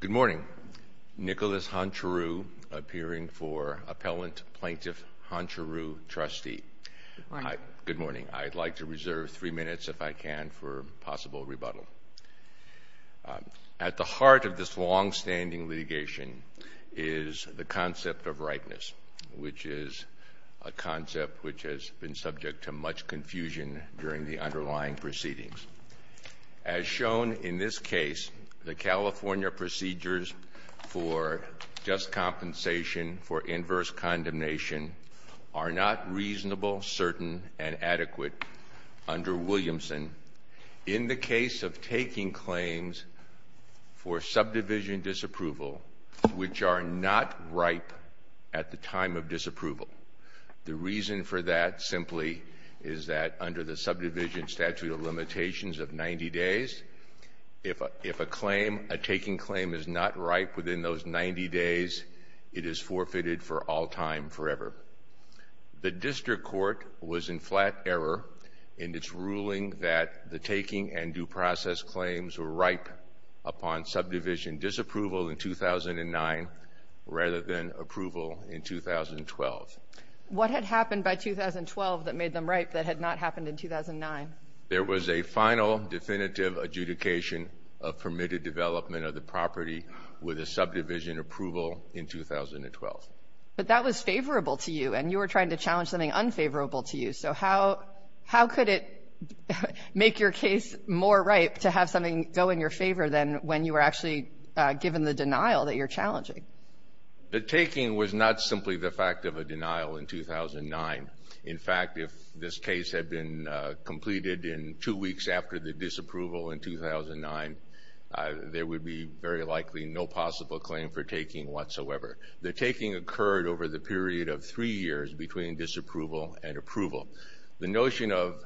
Good morning. Nicholas Honchariw, appearing for Appellant Plaintiff Honchariw, Trustee. Good morning. Good morning. I'd like to reserve three minutes, if I can, for possible rebuttal. At the heart of this longstanding litigation is the concept of rightness, which is a concept which has been subject to much confusion during the underlying proceedings. As shown in this case, the California procedures for just compensation for inverse condemnation are not reasonable, certain, and adequate under Williamson in the case of taking claims for subdivision disapproval, which are not ripe at the time of disapproval. The reason for that simply is that under the subdivision statute of limitations of 90 days, if a claim, a taking claim, is not ripe within those 90 days, it is forfeited for all time, forever. The district court was in flat error in its ruling that the taking and due process claims were ripe upon subdivision disapproval in 2009 rather than approval in 2012. What had happened by 2012 that made them ripe that had not happened in 2009? There was a final definitive adjudication of permitted development of the property with a subdivision approval in 2012. But that was favorable to you, and you were trying to challenge something unfavorable to you. So how could it make your case more ripe to have something go in your favor than when you were actually given the denial that you're challenging? The taking was not simply the fact of a denial in 2009. In fact, if this case had been completed in two weeks after the disapproval in 2009, there would be very likely no possible claim for taking whatsoever. The taking occurred over the period of three years between disapproval and approval. The notion of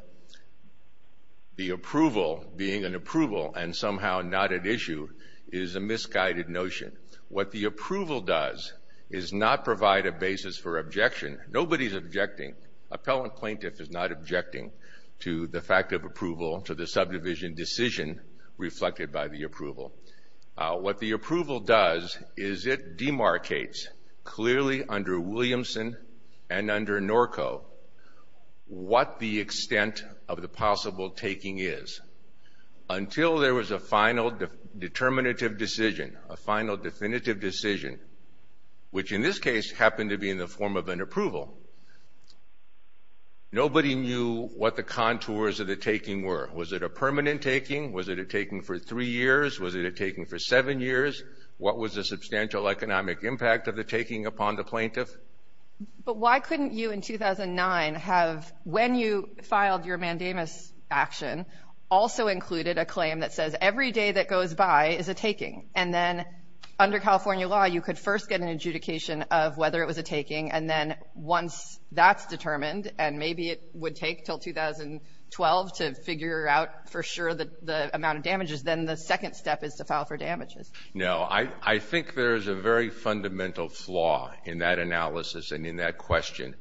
the approval being an approval and somehow not at issue is a misguided notion. What the approval does is not provide a basis for objection. Nobody is objecting. Appellant plaintiff is not objecting to the fact of approval, to the subdivision decision reflected by the approval. What the approval does is it demarcates clearly under Williamson and under Norco what the extent of the possible taking is. Until there was a final determinative decision, a final definitive decision, which in this case happened to be in the form of an approval, nobody knew what the contours of the taking were. Was it a permanent taking? Was it a taking for three years? Was it a taking for seven years? What was the substantial economic impact of the taking upon the plaintiff? But why couldn't you in 2009 have, when you filed your mandamus action, also included a claim that says every day that goes by is a taking and then under California law you could first get an adjudication of whether it was a taking and then once that's determined and maybe it would take until 2012 to figure out for sure the amount of damages, then the second step is to file for damages. No. I think there is a very fundamental flaw in that analysis and in that question,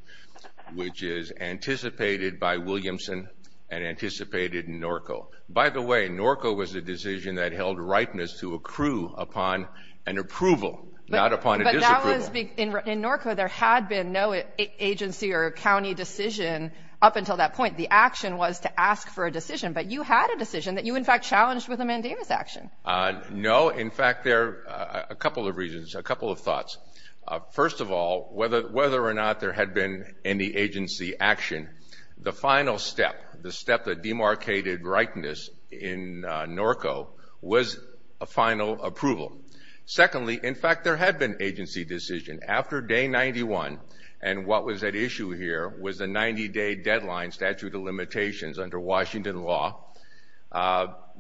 which is anticipated by Williamson and anticipated in Norco. By the way, Norco was a decision that held rightness to accrue upon an approval, not upon a disapproval. In Norco there had been no agency or county decision up until that point. The action was to ask for a decision. But you had a decision that you, in fact, challenged with a mandamus action. No. In fact, there are a couple of reasons, a couple of thoughts. First of all, whether or not there had been any agency action, the final step, the step that demarcated rightness in Norco was a final approval. Secondly, in fact, there had been agency decision. After day 91 and what was at issue here was a 90-day deadline statute of limitations under Washington law,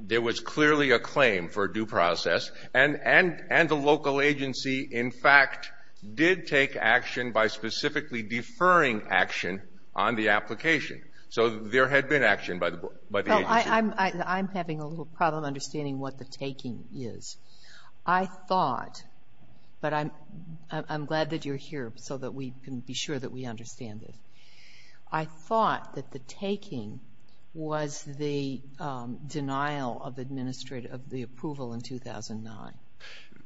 there was clearly a claim for due process and the local agency, in fact, did take action by specifically deferring action on the application. So there had been action by the agency. Sotomayor, I'm having a little problem understanding what the taking is. I thought, but I'm glad that you're here so that we can be sure that we understand this. I thought that the taking was the denial of administrative of the approval in 2009.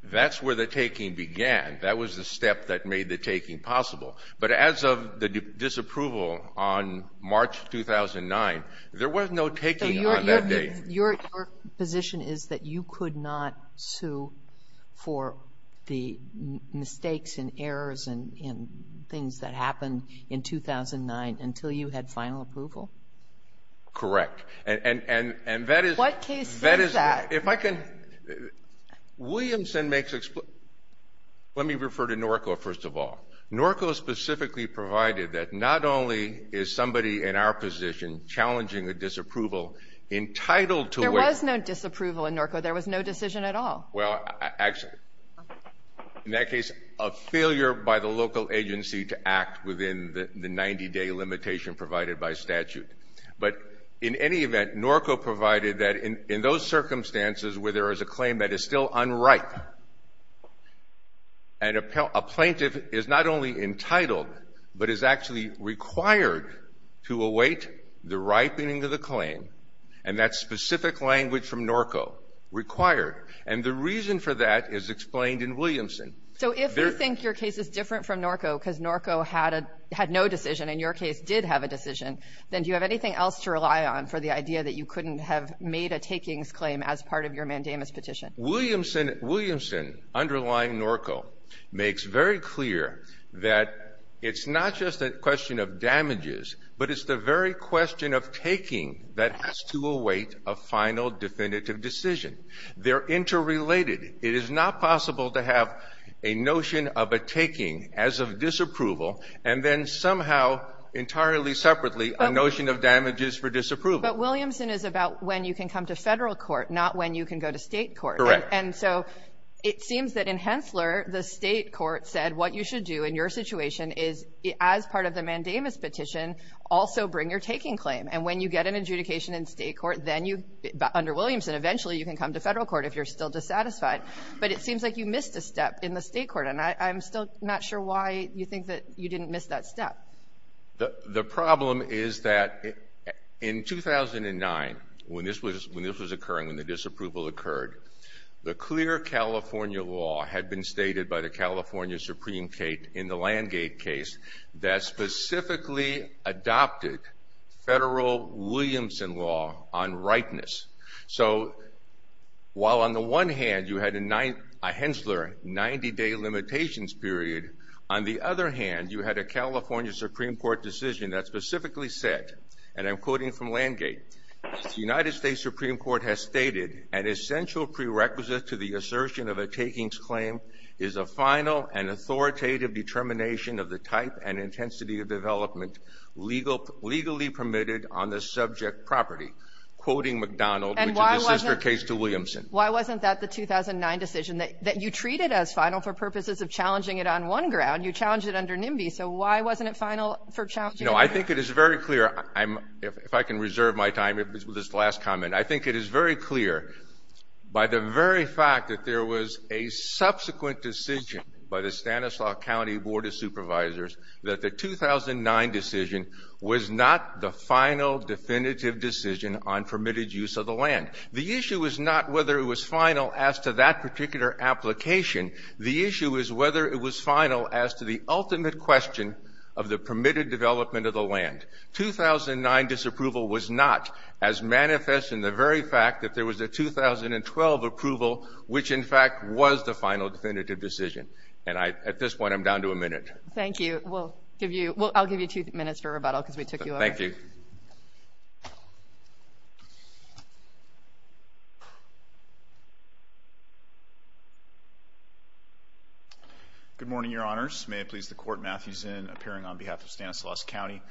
That's where the taking began. That was the step that made the taking possible. But as of the disapproval on March 2009, there was no taking either. Your position is that you could not sue for the mistakes and errors and things that happened in 2009 until you had final approval? Correct. And that is the case. What case is that? If I can — Williamson makes — let me refer to Norco first of all. Norco specifically provided that not only is somebody in our position challenging a disapproval entitled to — There was no disapproval in Norco. There was no decision at all. Well, actually, in that case, a failure by the local agency to act within the 90-day limitation provided by statute. But in any event, Norco provided that in those circumstances where there is a claim that is still unripe and a plaintiff is not only entitled but is actually required to await the ripening of the claim, and that specific language from Norco, required. And the reason for that is explained in Williamson. So if you think your case is different from Norco because Norco had a — had no decision and your case did have a decision, then do you have anything else to rely on for the idea that you couldn't have made a takings claim as part of your mandamus petition? Williamson — Williamson, underlying Norco, makes very clear that it's not just a question of damages, but it's the very question of taking that has to await a final definitive decision. They're interrelated. It is not possible to have a notion of a taking as of disapproval and then somehow entirely separately a notion of damages for disapproval. But Williamson is about when you can come to Federal court, not when you can go to State court. Correct. And so it seems that in Hensler, the State court said what you should do in your situation is, as part of the mandamus petition, also bring your taking claim. And when you get an adjudication in State court, then you — under Williamson, eventually you can come to Federal court if you're still dissatisfied. But it seems like you missed a step in the State court, and I'm still not sure why you think that you didn't miss that step. The problem is that in 2009, when this was — when this was occurring, when the disapproval occurred, the clear California law had been stated by the California Supreme Court, and I'm quoting from Landgate, that specifically adopted Federal Williamson law on rightness. So while on the one hand you had a Hensler 90-day limitations period, on the other hand, you had a California Supreme Court decision that specifically said, and I'm quoting from Landgate, the United States Supreme Court has stated an essential prerequisite to the assertion of a takings claim is a final and authoritative determination of the type and intensity of development legally permitted on the subject property, quoting McDonald, which is the sister case to Williamson. And why wasn't — why wasn't that the 2009 decision, that you treat it as final for purposes of challenging it on one ground? You challenged it under NIMBY. So why wasn't it final for challenging it? No. I think it is very clear. I'm — if I can reserve my time with this last comment, I think it is very clear by the very fact that there was a subsequent decision by the Stanislaus County Board of Supervisors that the 2009 decision was not the final definitive decision on permitted use of the land. The issue is not whether it was final as to that particular application. The issue is whether it was final as to the ultimate question of the permitted development of the land. 2009 disapproval was not as manifest in the very fact that there was a 2012 approval, which, in fact, was the final definitive decision. And I — at this point, I'm down to a minute. Thank you. We'll give you — I'll give you two minutes for rebuttal because we took you over. Thank you. Good morning, Your Honors. May it please the Court. Matthew Zinn, appearing on behalf of Stanislaus County.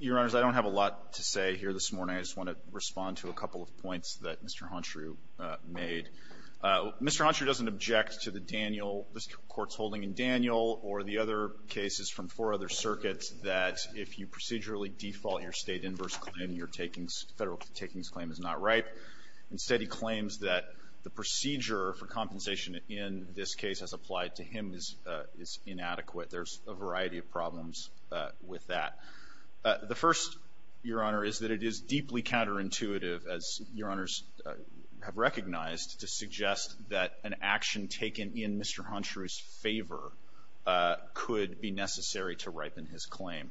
Your Honors, I don't have a lot to say here this morning. I just want to respond to a couple of points that Mr. Honshu made. Mr. Honshu doesn't object to the Daniel — this Court's holding in Daniel or the other cases from four other circuits that if you procedurally default your state inverse claim, your takings — federal takings claim is not right. Instead, he claims that the procedure for compensation in this case as applied to him is inadequate. There's a variety of problems with that. The first, Your Honor, is that it is deeply counterintuitive, as Your Honors have recognized, to suggest that an action taken in Mr. Honshu's favor could be necessary to ripen his claim.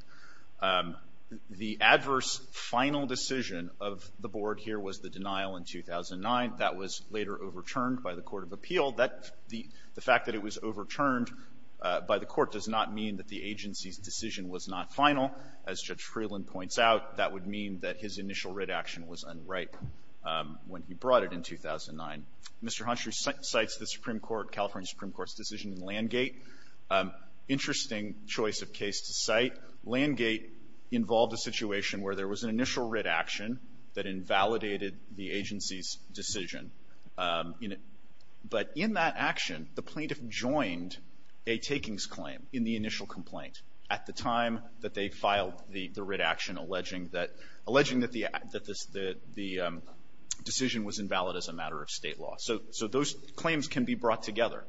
The adverse final decision of the Board here was the denial in 2009. That was later overturned by the Court of Appeal. That — the fact that it was overturned by the Court does not mean that the agency's decision was not final. As Judge Freeland points out, that would mean that his initial writ action was unripe when he brought it in 2009. Mr. Honshu cites the Supreme Court, California Supreme Court's decision in Landgate. Interesting choice of case to cite. Landgate involved a situation where there was an initial writ action that invalidated the agency's decision. But in that action, the plaintiff joined a takings claim in the initial complaint at the time that they filed the writ action, alleging that — alleging that the decision was invalid as a matter of State law. So those claims can be brought together.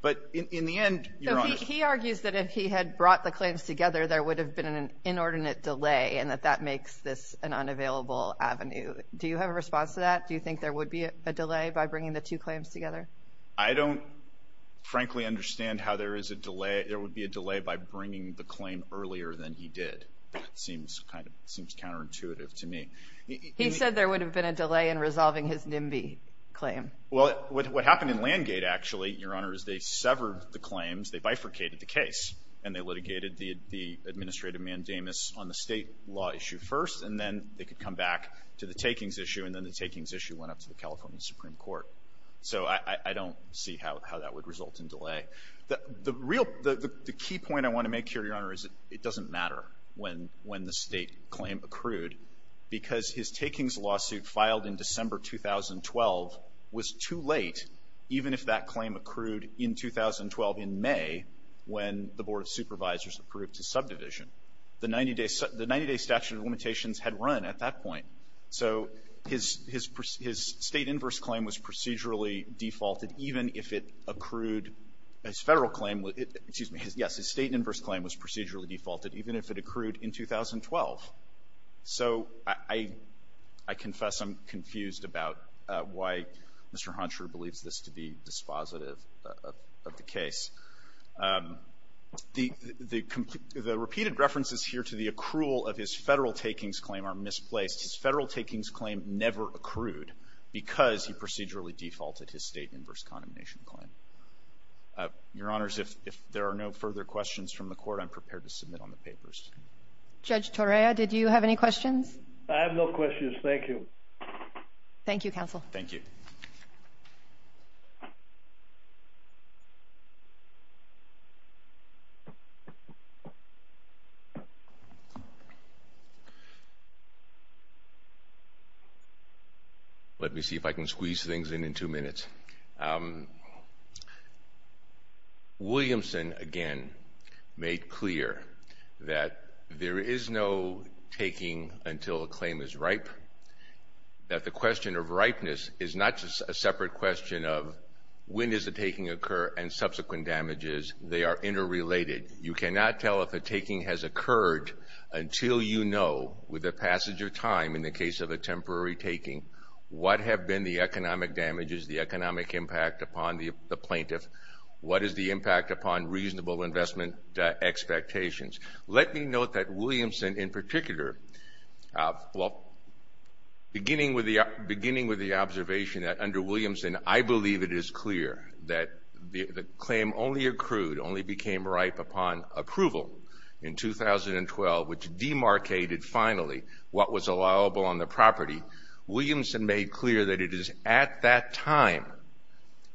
But in the end, Your Honor — So he argues that if he had brought the claims together, there would have been an inordinate delay, and that that makes this an unavailable avenue. Do you have a response to that? Do you think there would be a delay by bringing the two claims together? I don't, frankly, understand how there is a delay — there would be a delay by bringing the claim earlier than he did. That seems kind of — seems counterintuitive to me. He said there would have been a delay in resolving his NIMBY claim. Well, what happened in Landgate, actually, Your Honor, is they severed the claims, they bifurcated the case, and they litigated the administrative mandamus on the State law issue first, and then they could come back to the takings issue, and then the takings issue went up to the California Supreme Court. So I don't see how that would result in delay. The real — the key point I want to make here, Your Honor, is it doesn't matter when the State claim accrued, because his takings lawsuit filed in December 2012 was too late, even if that claim accrued in 2012, in May, when the Board of Supervisors approved his subdivision. The 90-day — the 90-day statute of limitations had run at that point. So his — his State inverse claim was procedurally defaulted, even if it accrued — his Federal claim — excuse me, yes, his State inverse claim was procedurally defaulted, even if it accrued in 2012. So I — I confess I'm confused about why Mr. Honsher believes this to be dispositive of the case. The — the repeated references here to the accrual of his Federal takings claim are misplaced. His Federal takings claim never accrued because he procedurally defaulted his State inverse condemnation claim. Your Honors, if there are no further questions from the Court, I'm prepared to submit on the papers. Judge Torea, did you have any questions? I have no questions. Thank you. Thank you, counsel. Thank you. Let me see if I can squeeze things in in two minutes. Williamson, again, made clear that there is no taking until a claim is ripe, that the question of ripeness is not just a separate question of when does the taking occur and subsequent damages, they are interrelated. You cannot tell if a taking has occurred until you know, with the passage of time, in the case of a temporary taking, what have been the economic damages, the economic impact upon the plaintiff, what is the impact upon reasonable investment expectations. Let me note that Williamson, in particular — well, beginning with the observation that under Williamson, I believe it is clear that the claim only accrued, only became ripe upon approval in 2012, which demarcated finally what was allowable on the property. Williamson made clear that it is at that time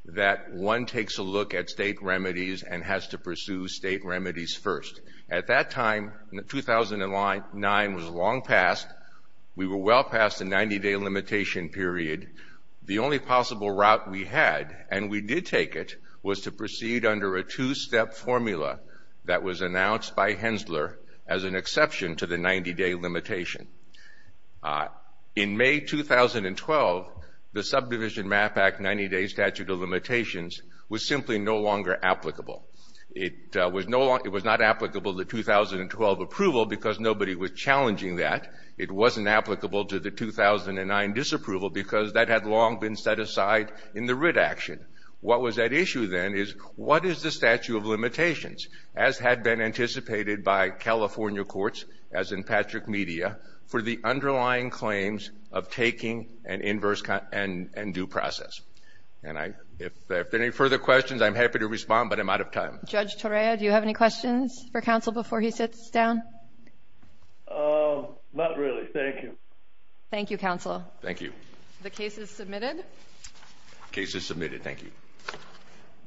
that one takes a look at State remedies and has to pursue State remedies first. At that time, 2009 was long past. We were well past the 90-day limitation period. The only possible route we had, and we did take it, was to proceed under a two-step formula that was announced by Hensler as an exception to the 90-day limitation. In May 2012, the Subdivision Map Act 90-day statute of limitations was simply no longer applicable. It was not applicable to the 2012 approval because nobody was challenging that. It wasn't applicable to the 2009 disapproval because that had long been set aside in the writ action. What was at issue then is what is the statute of limitations, as had been anticipated by California courts, as in Patrick Media, for the underlying claims of taking an inverse and due process. And if there are any further questions, I'm happy to respond, but I'm out of time. Judge Torea, do you have any questions for counsel before he sits down? Not really. Thank you. Thank you, counsel. Thank you. The case is submitted. The case is submitted. Thank you.